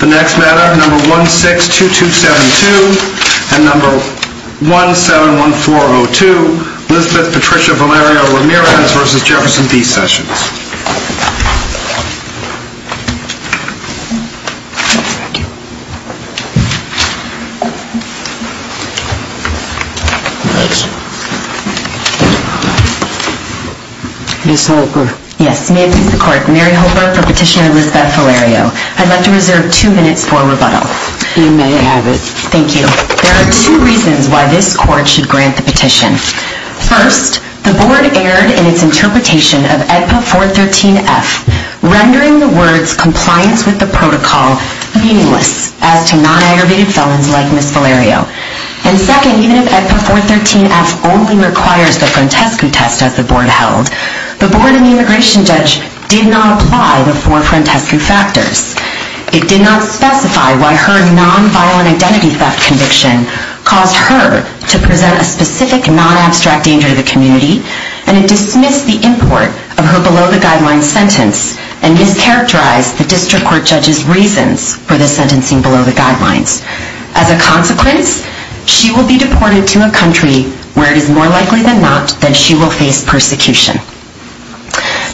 The next matter, number 162272 and number 171402, Lisbeth Patricia Valerio Ramirez v. Jefferson B. Sessions. Yes, may it please the court, Mary Hoper for Petitioner Lisbeth Valerio. I'd like to reserve two minutes for rebuttal. You may have it. Thank you. There are two reasons why this court should grant the petition. First, the board erred in its interpretation of AEDPA 413F, rendering the words compliance with the protocol meaningless as to non-aggravated felons like Ms. Valerio. And second, even if AEDPA 413F only requires the Frantescu test as the board held, the board and the immigration judge did not apply the four Frantescu factors. It did not specify why her non-violent identity theft conviction caused her to present a specific non-abstract danger to the community, and it dismissed the import of her below-the-guidelines sentence and mischaracterized the district court judge's reasons for the sentencing below the guidelines. As a consequence, she will be deported to a country where it is more likely than not that she will face persecution.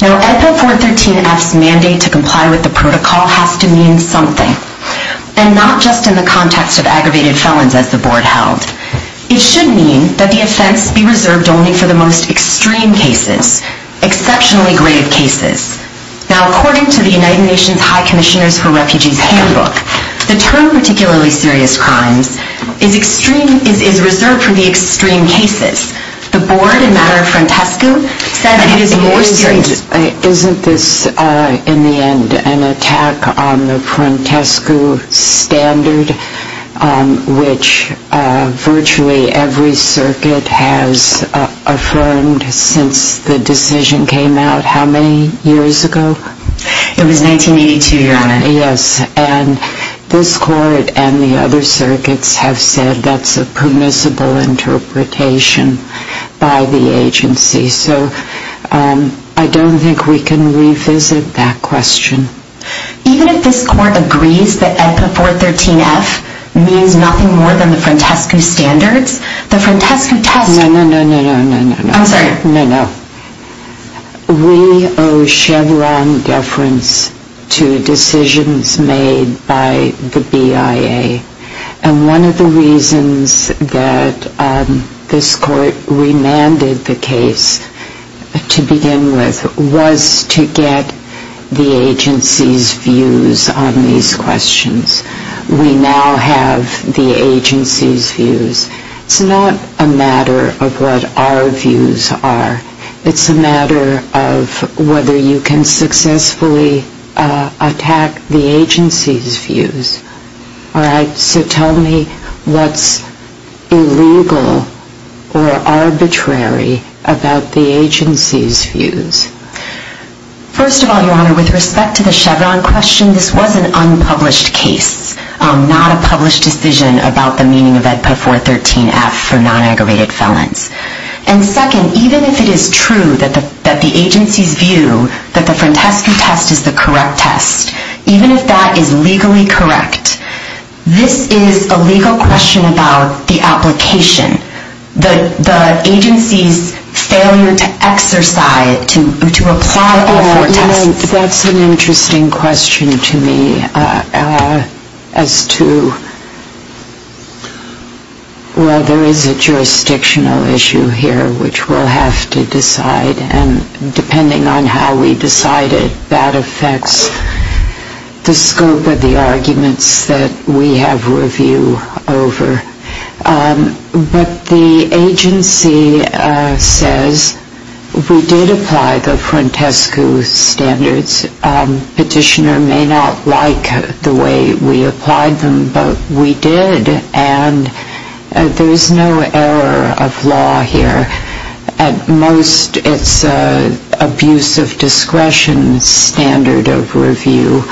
Now, AEDPA 413F's mandate to comply with the protocol has to mean something, and not just in the context of aggravated felons as the board held. It should mean that the offense be reserved only for the most extreme cases, exceptionally grave cases. Now, according to the United Nations High Commissioners for Refugees Handbook, the term particularly serious crimes is reserved for the extreme cases. The board, in matter of Frantescu, said that it is more serious. Isn't this, in the end, an attack on the Frantescu standard, which virtually every circuit has affirmed since the decision came out how many years ago? Yes, and this court and the other circuits have said that's a permissible interpretation by the agency. So I don't think we can revisit that question. Even if this court agrees that AEDPA 413F means nothing more than the Frantescu standards, the Frantescu test... No, no, no, no, no, no, no. I'm sorry. We owe Chevron deference to decisions made by the BIA. And one of the reasons that this court remanded the case to begin with was to get the agency's views on these questions. We now have the agency's views. It's not a matter of what our views are. It's a matter of whether you can successfully attack the agency's views. All right? So tell me what's illegal or arbitrary about the agency's views. First of all, Your Honor, with respect to the Chevron question, this was an unpublished case, not a published decision about the meaning of AEDPA 413F. And second, even if it is true that the agency's view that the Frantescu test is the correct test, even if that is legally correct, this is a legal question about the application, the agency's failure to exercise, to apply... That's an interesting question to me as to... Well, there is a jurisdictional issue here, which we'll have to decide. And depending on how we decide it, that affects the scope of the arguments that we have review over. But the agency says we did apply the Frantescu standards. Petitioner may not like the way we applied them, but we did. And there is no error of law here. At most, it's an abuse of discretion standard of review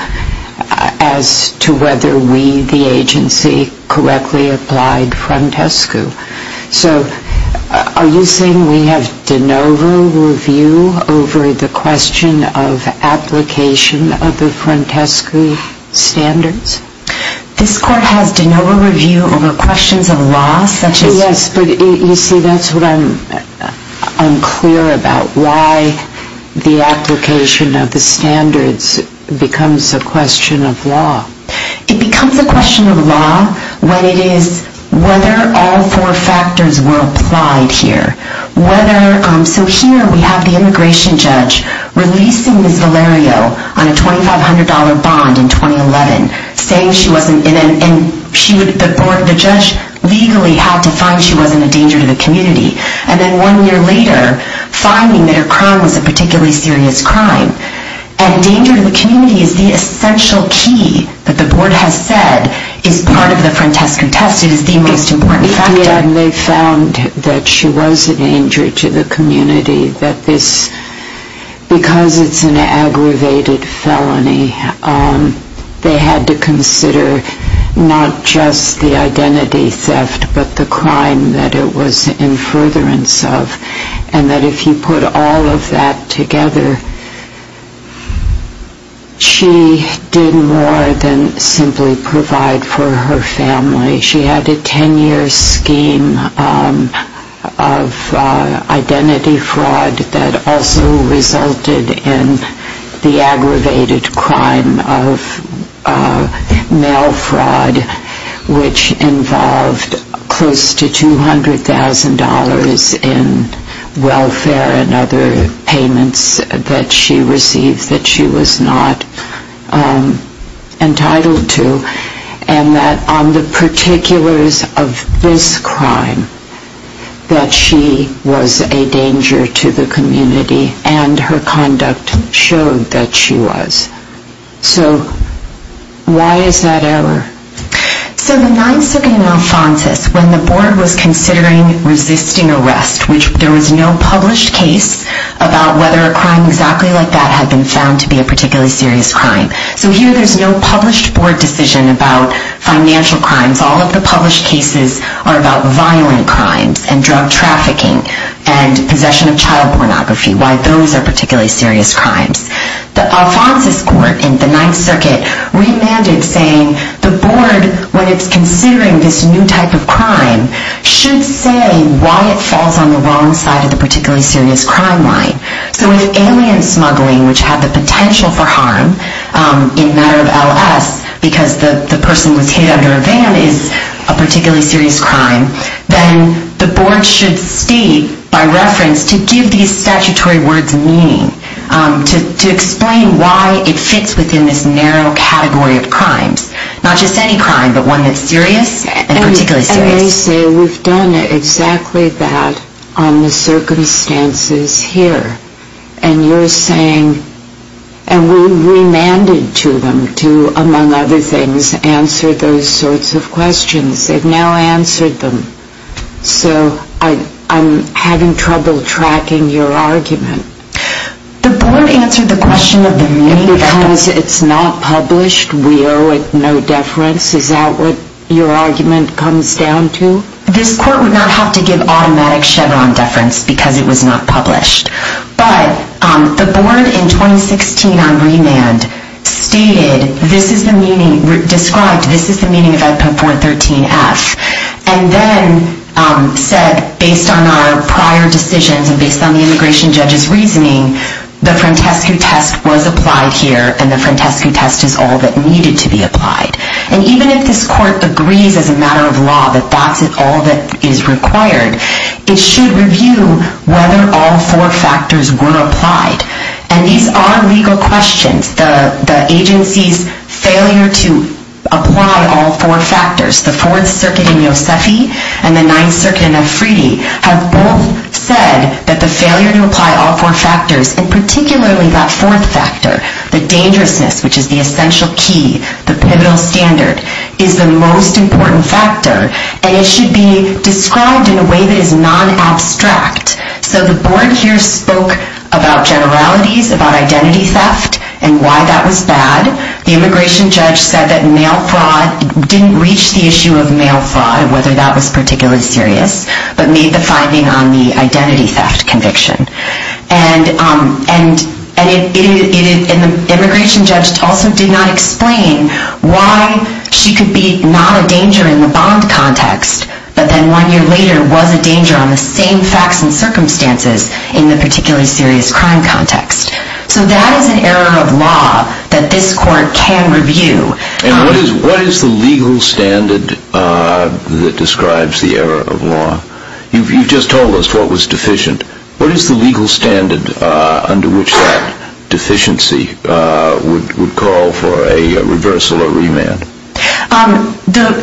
as to whether we, the agency, correctly applied Frantescu. So are you saying we have de novo review over the question of application of the Frantescu standards? This Court has de novo review over questions of law, such as... Yes, but you see, that's what I'm clear about, why the application of the standards becomes a question of law. It becomes a question of law when it is whether all four factors were applied here. So here we have the immigration judge releasing Ms. Valerio on a $2,500 bond in 2011, saying she wasn't... and the judge legally had to find she wasn't a danger to the community. And then one year later, finding that her crime was a particularly serious crime. And danger to the community is the essential key that the Board has said is part of the Frantescu test. It is the most important factor. And they found that she was a danger to the community, that this... because it's an aggravated felony, they had to consider not just the identity theft, but the crime that it was in furtherance of. And that if you put all of that together, she did more than simply provide for her family. She had a 10-year scheme of identity fraud that also resulted in the aggravated crime of mail fraud, which involved close to $200,000 in welfare and other payments that she received that she was not entitled to. And that on the particulars of this crime, that she was a danger to the community. And her conduct showed that she was. So why is that error? So the 9th Circuit in Alphonsus, when the Board was considering resisting arrest, which there was no published case about whether a crime exactly like that had been found to be a particularly serious crime. So here there's no published Board decision about financial crimes. All of the published cases are about violent crimes and drug trafficking and possession of child pornography, why those are particularly serious crimes. The Alphonsus Court in the 9th Circuit remanded saying, the Board, when it's considering this new type of crime, should say why it falls on the wrong side of the particularly serious crime line. So if alien smuggling, which had the potential for harm in a matter of LS, because the person was hit under a van, is a particularly serious crime, then the Board should state, by reference, to give these statutory words meaning. To explain why it fits within this narrow category of crimes. Not just any crime, but one that's serious and particularly serious. They say we've done exactly that on the circumstances here. And you're saying, and we remanded to them to, among other things, answer those sorts of questions. They've now answered them. So I'm having trouble tracking your argument. The Board answered the question of the meaning. Because it's not published, we owe it no deference. Is that what your argument comes down to? This Court would not have to give automatic Chevron deference, because it was not published. But the Board, in 2016, on remand, stated, this is the meaning, described, this is the meaning of Edpin 413F. And then said, based on our prior decisions, and based on the immigration judge's reasoning, the Frantescu test was applied here, and the Frantescu test is all that needed to be applied. And even if this Court agrees, as a matter of law, that that's all that is required, it should review whether all four factors were applied. And these are legal questions. The agency's failure to apply all four factors, the Fourth Circuit in Yosefi, and the Ninth Circuit in Afridi, have both said that the failure to apply all four factors, and particularly that fourth factor, the dangerousness, which is the essential key, the pivotal standard, is the most important factor. And it should be described in a way that is non-abstract. So the Board here spoke about generalities, about identity theft, and why that was bad. The immigration judge said that mail fraud didn't reach the issue of mail fraud, whether that was particularly serious, but made the finding on the identity theft conviction. And the immigration judge also did not explain why she could be not a danger in the bond context, but then one year later was a danger on the same facts and circumstances in the particularly serious crime context. So that is an error of law that this Court can review. And what is the legal standard that describes the error of law? You've just told us what was deficient. What is the legal standard under which that deficiency would call for a reversal or remand?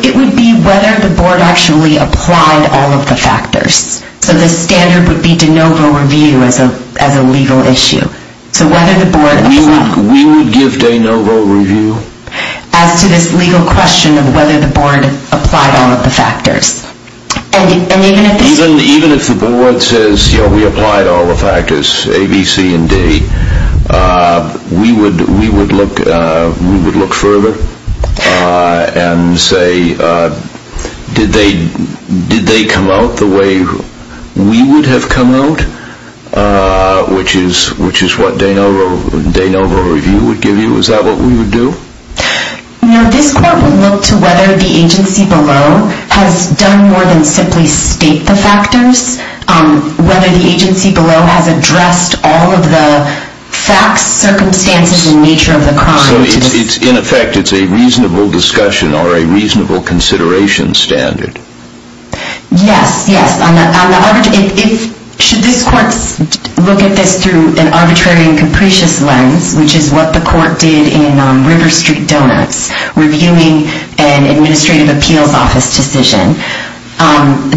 It would be whether the Board actually applied all of the factors. So the standard would be de novo review as a legal issue. We would give de novo review? As to this legal question of whether the Board applied all of the factors. Even if the Board says, you know, we applied all the factors, A, B, C, and D, we would look further and say, did they come out the way we would have come out, which is what de novo review would give you? Is that what we would do? No, this Court would look to whether the agency below has done more than simply state the factors, whether the agency below has addressed all of the facts, circumstances, and nature of the crime. So in effect, it's a reasonable discussion or a reasonable consideration standard. Yes, yes. Should this Court look at this through an arbitrary and capricious lens, which is what the Court did in River Street Donuts reviewing an administrative appeals office decision,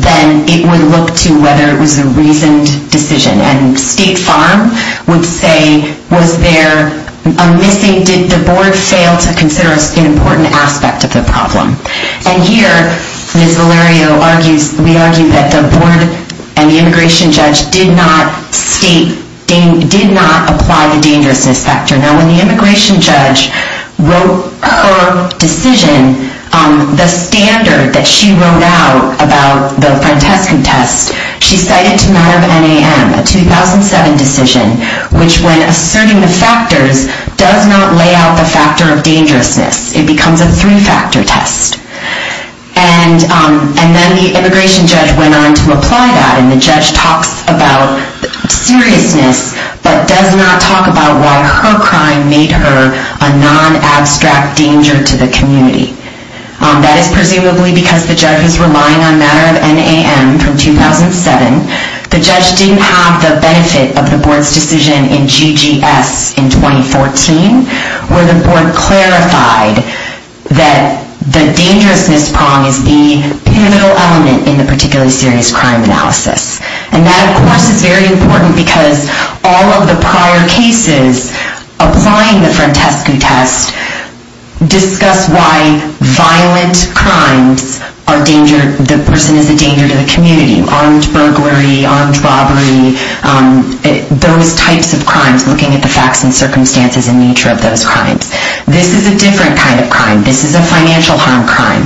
then it would look to whether it was a reasoned decision. And State Farm would say, was there a missing, did the Board fail to consider an important aspect of the problem? And here, Ms. Valerio argues, we argue that the Board and the immigration judge did not state, did not apply the dangerousness factor. Now, when the immigration judge wrote her decision, the standard that she wrote out about the Francesco test, she cited to matter of NAM, a 2007 decision, which when asserting the factors, does not lay out the factor of dangerousness. It becomes a three-factor test. And then the immigration judge went on to apply that, and the judge talks about seriousness, but does not talk about why her crime made her a non-abstract danger to the community. That is presumably because the judge was relying on matter of NAM from 2007. The judge didn't have the benefit of the Board's decision in GGS in 2014, where the Board clarified that the dangerousness prong is the pivotal element in the particularly serious crime analysis. And that, of course, is very important because all of the prior cases applying the Francesco test discuss why violent crimes are danger, the person is a danger to the community, armed burglary, armed robbery, those types of crimes, looking at the facts and circumstances and nature of those crimes. This is a different kind of crime. This is a financial harm crime.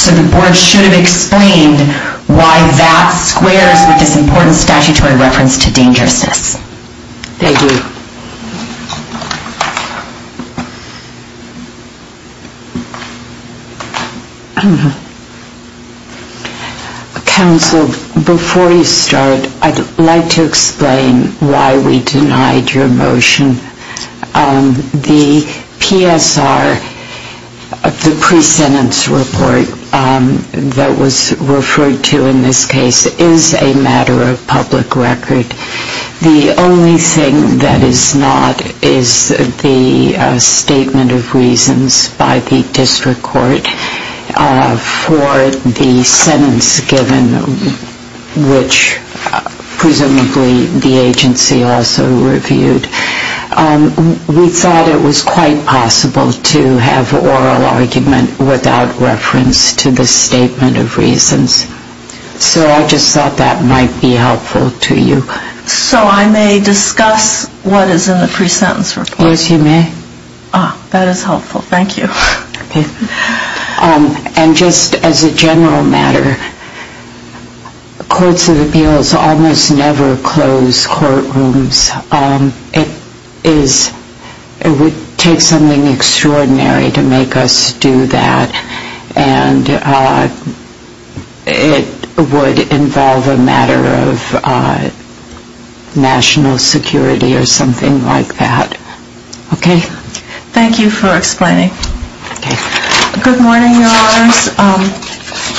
So the Board should have explained why that squares with this important statutory reference to dangerousness. Thank you. Counsel, before you start, I would like to explain why we denied your motion. The PSR, the pre-sentence report that was referred to in this case, is a matter of public record. The only thing that is not is the statement of reasons by the district court for the sentence given, which presumably the agency also reviewed. We thought it was quite possible to have oral argument without reference to the statement of reasons. So I just thought that might be helpful to you. So I may discuss what is in the pre-sentence report? Yes, you may. Ah, that is helpful. Thank you. And just as a general matter, courts of appeals almost never close courtrooms. It is, it would take something extraordinary to make us do that. And it would involve a matter of national security or something like that. Okay? Thank you for explaining. Okay. Good morning, Your Honors.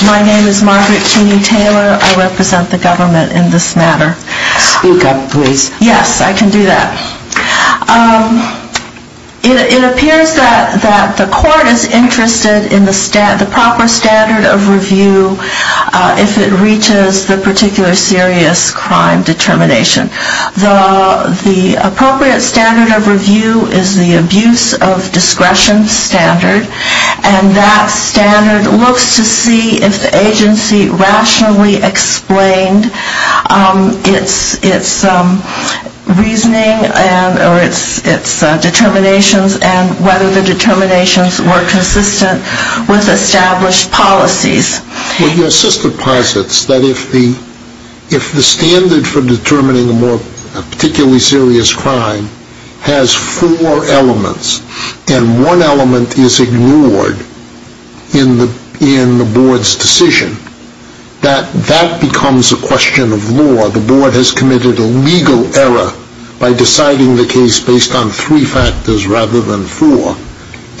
My name is Margaret Keeney Taylor. I represent the government in this matter. Speak up, please. Yes, I can do that. It appears that the court is interested in the proper standard of review if it reaches the particular serious crime determination. The appropriate standard of review is the abuse of discretion standard. And that standard looks to see if the agency rationally explained its reasoning or its determinations and whether the determinations were consistent with established policies. Well, your sister posits that if the standard for determining a particularly serious crime has four elements and one element is ignored in the board's decision, that that becomes a question of law. The board has committed a legal error by deciding the case based on three factors rather than four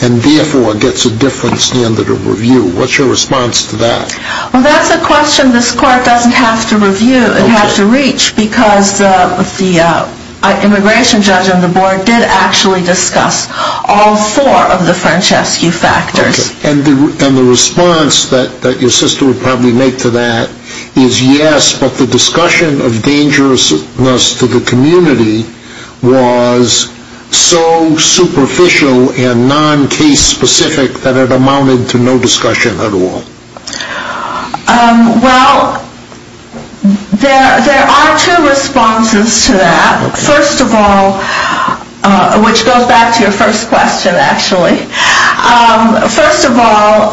and therefore gets a different standard of review. What's your response to that? Well, that's a question this court doesn't have to review and have to reach because the immigration judge on the board did actually discuss all four of the Francescu factors. And the response that your sister would probably make to that is yes, but the discussion of dangerousness to the community was so superficial and non-case specific that it amounted to no discussion at all. Well, there are two responses to that. First of all, which goes back to your first question, actually. First of all,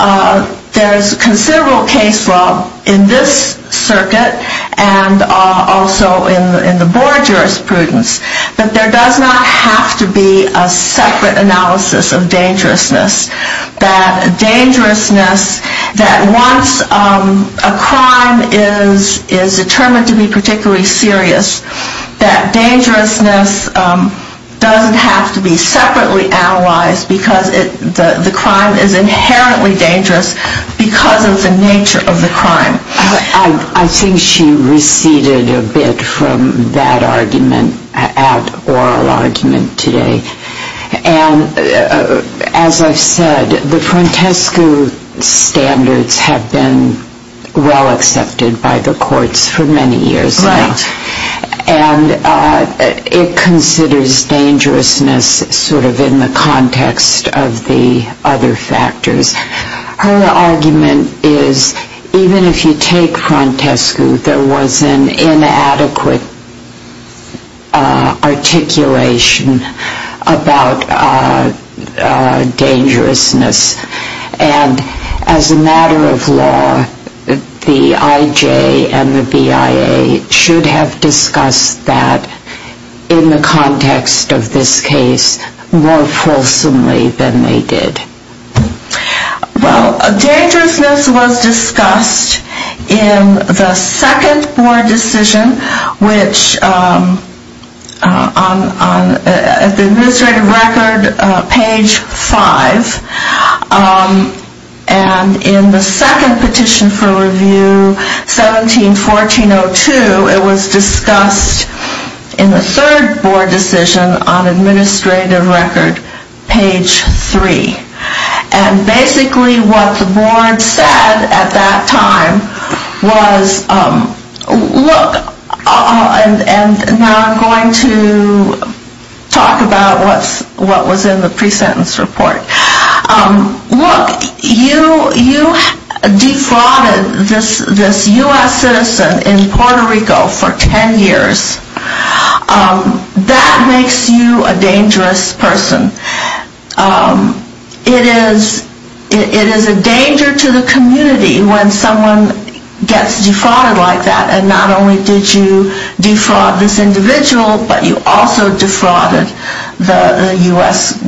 there's considerable case law in this circuit and also in the board jurisprudence that there does not have to be a separate analysis of dangerousness. That dangerousness, that once a crime is determined to be particularly serious, that dangerousness doesn't have to be separately analyzed because the crime is inherently dangerous because of the nature of the crime. I think she receded a bit from that argument, that oral argument today. And as I've said, the Francescu standards have been well accepted by the courts for many years now. Right. And it considers dangerousness sort of in the context of the other factors. Her argument is even if you take Francescu, there was an inadequate articulation about dangerousness. And as a matter of law, the IJ and the BIA should have discussed that in the context of this case more fulsomely than they did. Well, dangerousness was discussed in the second board decision, which on the administrative record, page 5, and in the second petition for review, 17-1402, it was discussed in the third board decision on administrative record, page 3. And basically what the board said at that time was, look, and now I'm going to talk about what was in the pre-sentence report. Look, you defrauded this U.S. citizen in Puerto Rico for 10 years. That makes you a dangerous person. It is a danger to the community when someone gets defrauded like that. And not only did you defraud this individual, but you also defrauded the U.S.,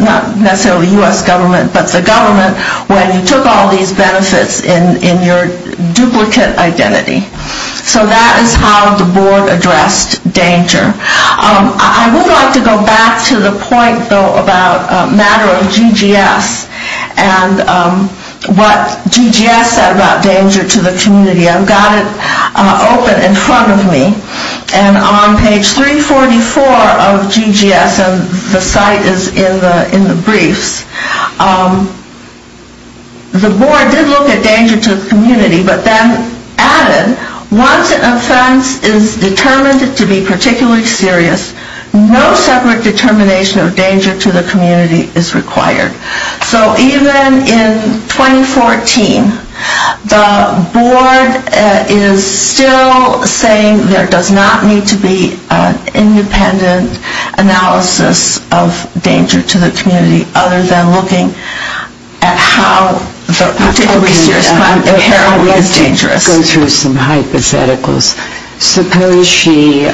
not necessarily the U.S. government, but the government, when you took all these benefits in your duplicate identity. So that is how the board addressed danger. I would like to go back to the point, though, about a matter of GGS and what GGS said about danger to the community. I've got it open in front of me, and on page 344 of GGS, and the site is in the briefs, the board did look at danger to the community, but then added, once an offense is determined to be particularly serious, no separate determination of danger to the community is required. So even in 2014, the board is still saying there does not need to be an independent analysis of danger to the community, other than looking at how the particularly serious crime inherently is dangerous. Let me go through some hypotheticals. Suppose she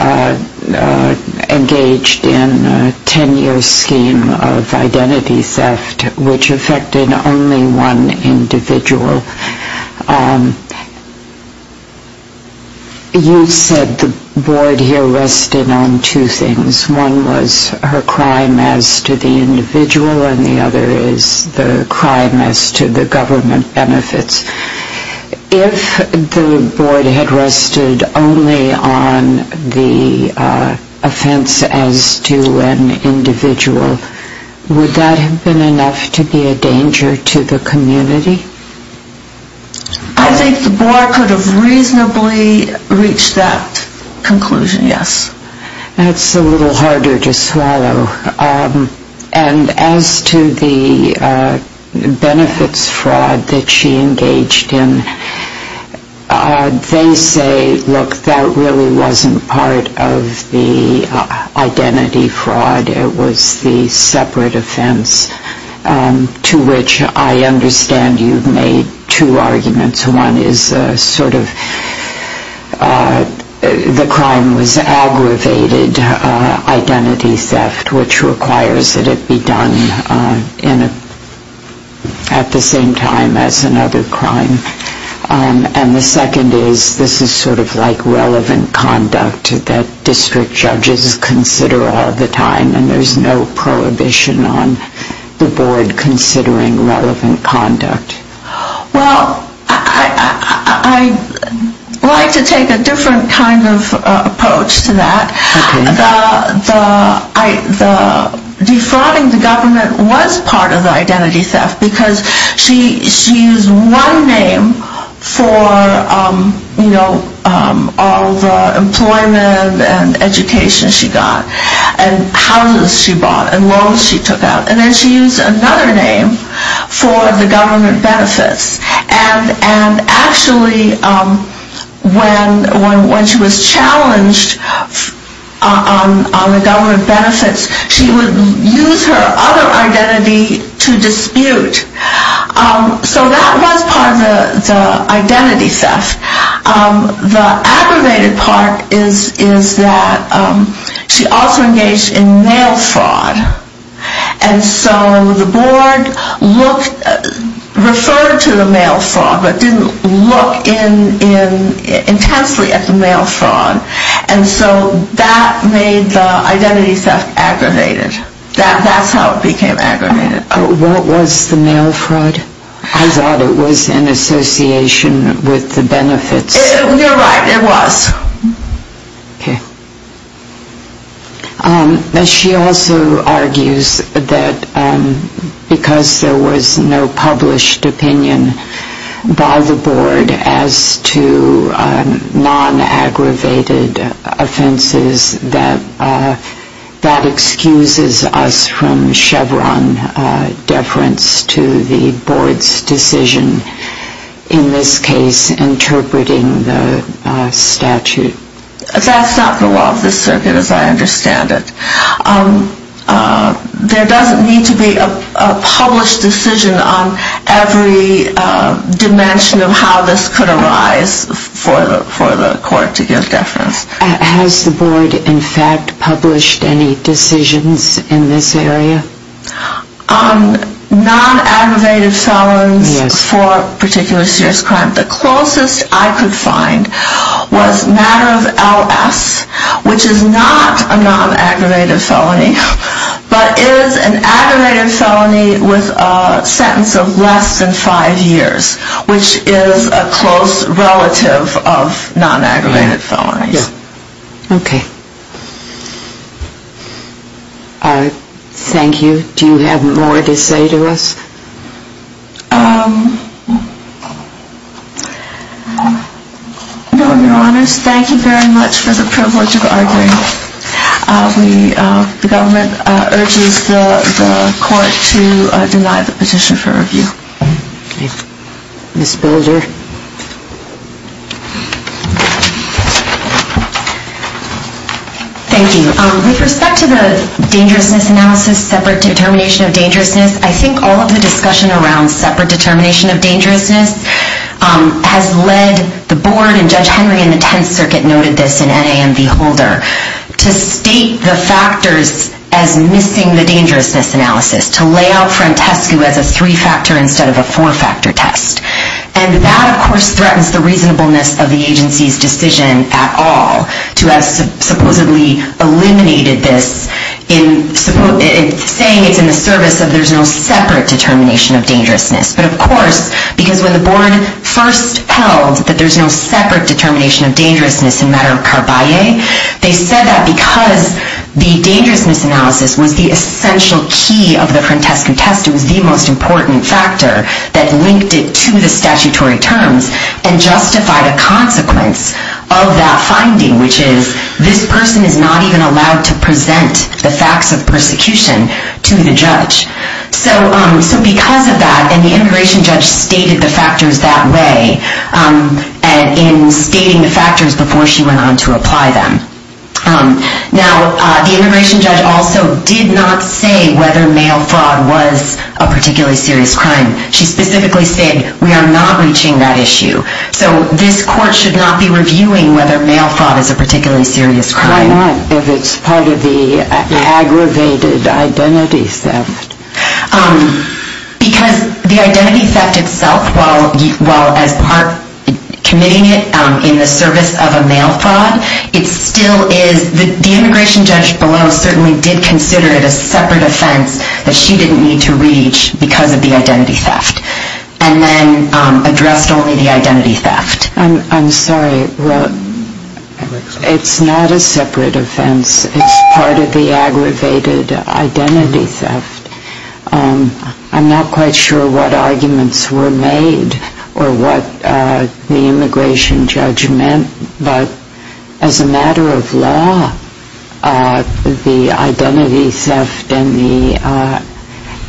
engaged in a 10-year scheme of identity theft, which affected only one individual. You said the board here rested on two things. One was her crime as to the individual, and the other is the crime as to the government benefits. If the board had rested only on the offense as to an individual, would that have been enough to be a danger to the community? I think the board could have reasonably reached that conclusion, yes. And as to the benefits fraud that she engaged in, they say, look, that really wasn't part of the identity fraud. It was the separate offense to which I understand you've made two arguments. One is sort of the crime was aggravated identity theft, which requires that it be done at the same time as another crime. And the second is this is sort of like relevant conduct that district judges consider all the time, and there's no prohibition on the board considering relevant conduct. Well, I like to take a different kind of approach to that. The defrauding the government was part of the identity theft because she used one name for all the employment and education she got and houses she bought and loans she took out. And then she used another name for the government benefits. And actually when she was challenged on the government benefits, she would use her other identity to dispute. So that was part of the identity theft. The aggravated part is that she also engaged in mail fraud. And so the board referred to the mail fraud but didn't look intensely at the mail fraud. And so that made the identity theft aggravated. That's how it became aggravated. What was the mail fraud? I thought it was an association with the benefits. You're right, it was. Okay. She also argues that because there was no published opinion by the board as to non-aggravated offenses, that that excuses us from Chevron deference to the board's decision, in this case, interpreting the statute. That's not the law of the circuit as I understand it. There doesn't need to be a published decision on every dimension of how this could arise for the court to give deference. Has the board, in fact, published any decisions in this area? Non-aggravated felons for a particular serious crime, the closest I could find was matter of LS, which is not a non-aggravated felony but is an aggravated felony with a sentence of less than five years, which is a close relative of non-aggravated felonies. Okay. Thank you. Do you have more to say to us? No, Your Honors. Thank you very much for the privilege of arguing. The government urges the court to deny the petition for review. Ms. Builder. Thank you. With respect to the dangerousness analysis, separate determination of dangerousness, I think all of the discussion around separate determination of dangerousness has led the board, and Judge Henry in the Tenth Circuit noted this, and NAMD Holder, to state the factors as missing the dangerousness analysis, to lay out Frantescu as a three-factor instead of a four-factor test. And that, of course, threatens the reasonableness of the agency's decision at all to have supposedly eliminated this in saying it's in the service of there's no separate determination of dangerousness. But, of course, because when the board first held that there's no separate determination of dangerousness in matter of carbaye, they said that because the dangerousness analysis was the essential key of the Frantescu test, it was the most important factor that linked it to the statutory terms and justified a consequence of that finding, which is this person is not even allowed to present the facts of persecution to the judge. So because of that, and the immigration judge stated the factors that way in stating the factors before she went on to apply them. Now, the immigration judge also did not say whether mail fraud was a particularly serious crime. She specifically said, we are not reaching that issue. So this court should not be reviewing whether mail fraud is a particularly serious crime. Why not if it's part of the aggravated identity theft? Because the identity theft itself, while as part committing it in the service of a mail fraud, it still is, the immigration judge below certainly did consider it a separate offense that she didn't need to reach because of the identity theft, and then addressed only the identity theft. I'm sorry. Well, it's not a separate offense. It's part of the aggravated identity theft. I'm not quite sure what arguments were made or what the immigration judge meant, but as a matter of law, the identity theft and the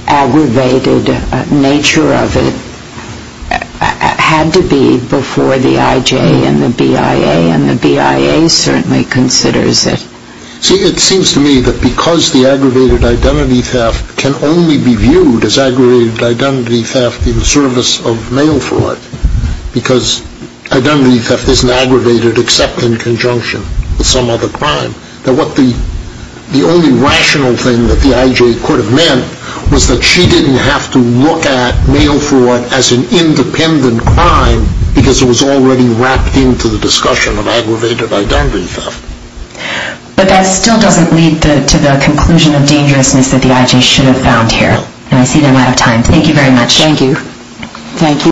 aggravated nature of it had to be before the IJ and the BIA, and the BIA certainly considers it. See, it seems to me that because the aggravated identity theft can only be viewed as aggravated identity theft in service of mail fraud, because identity theft isn't aggravated except in conjunction with some other crime. The only rational thing that the IJ could have meant was that she didn't have to look at mail fraud as an independent crime because it was already wrapped into the discussion of aggravated identity theft. But that still doesn't lead to the conclusion of dangerousness that the IJ should have found here, and I see we're out of time. Thank you very much. Thank you. Thank you.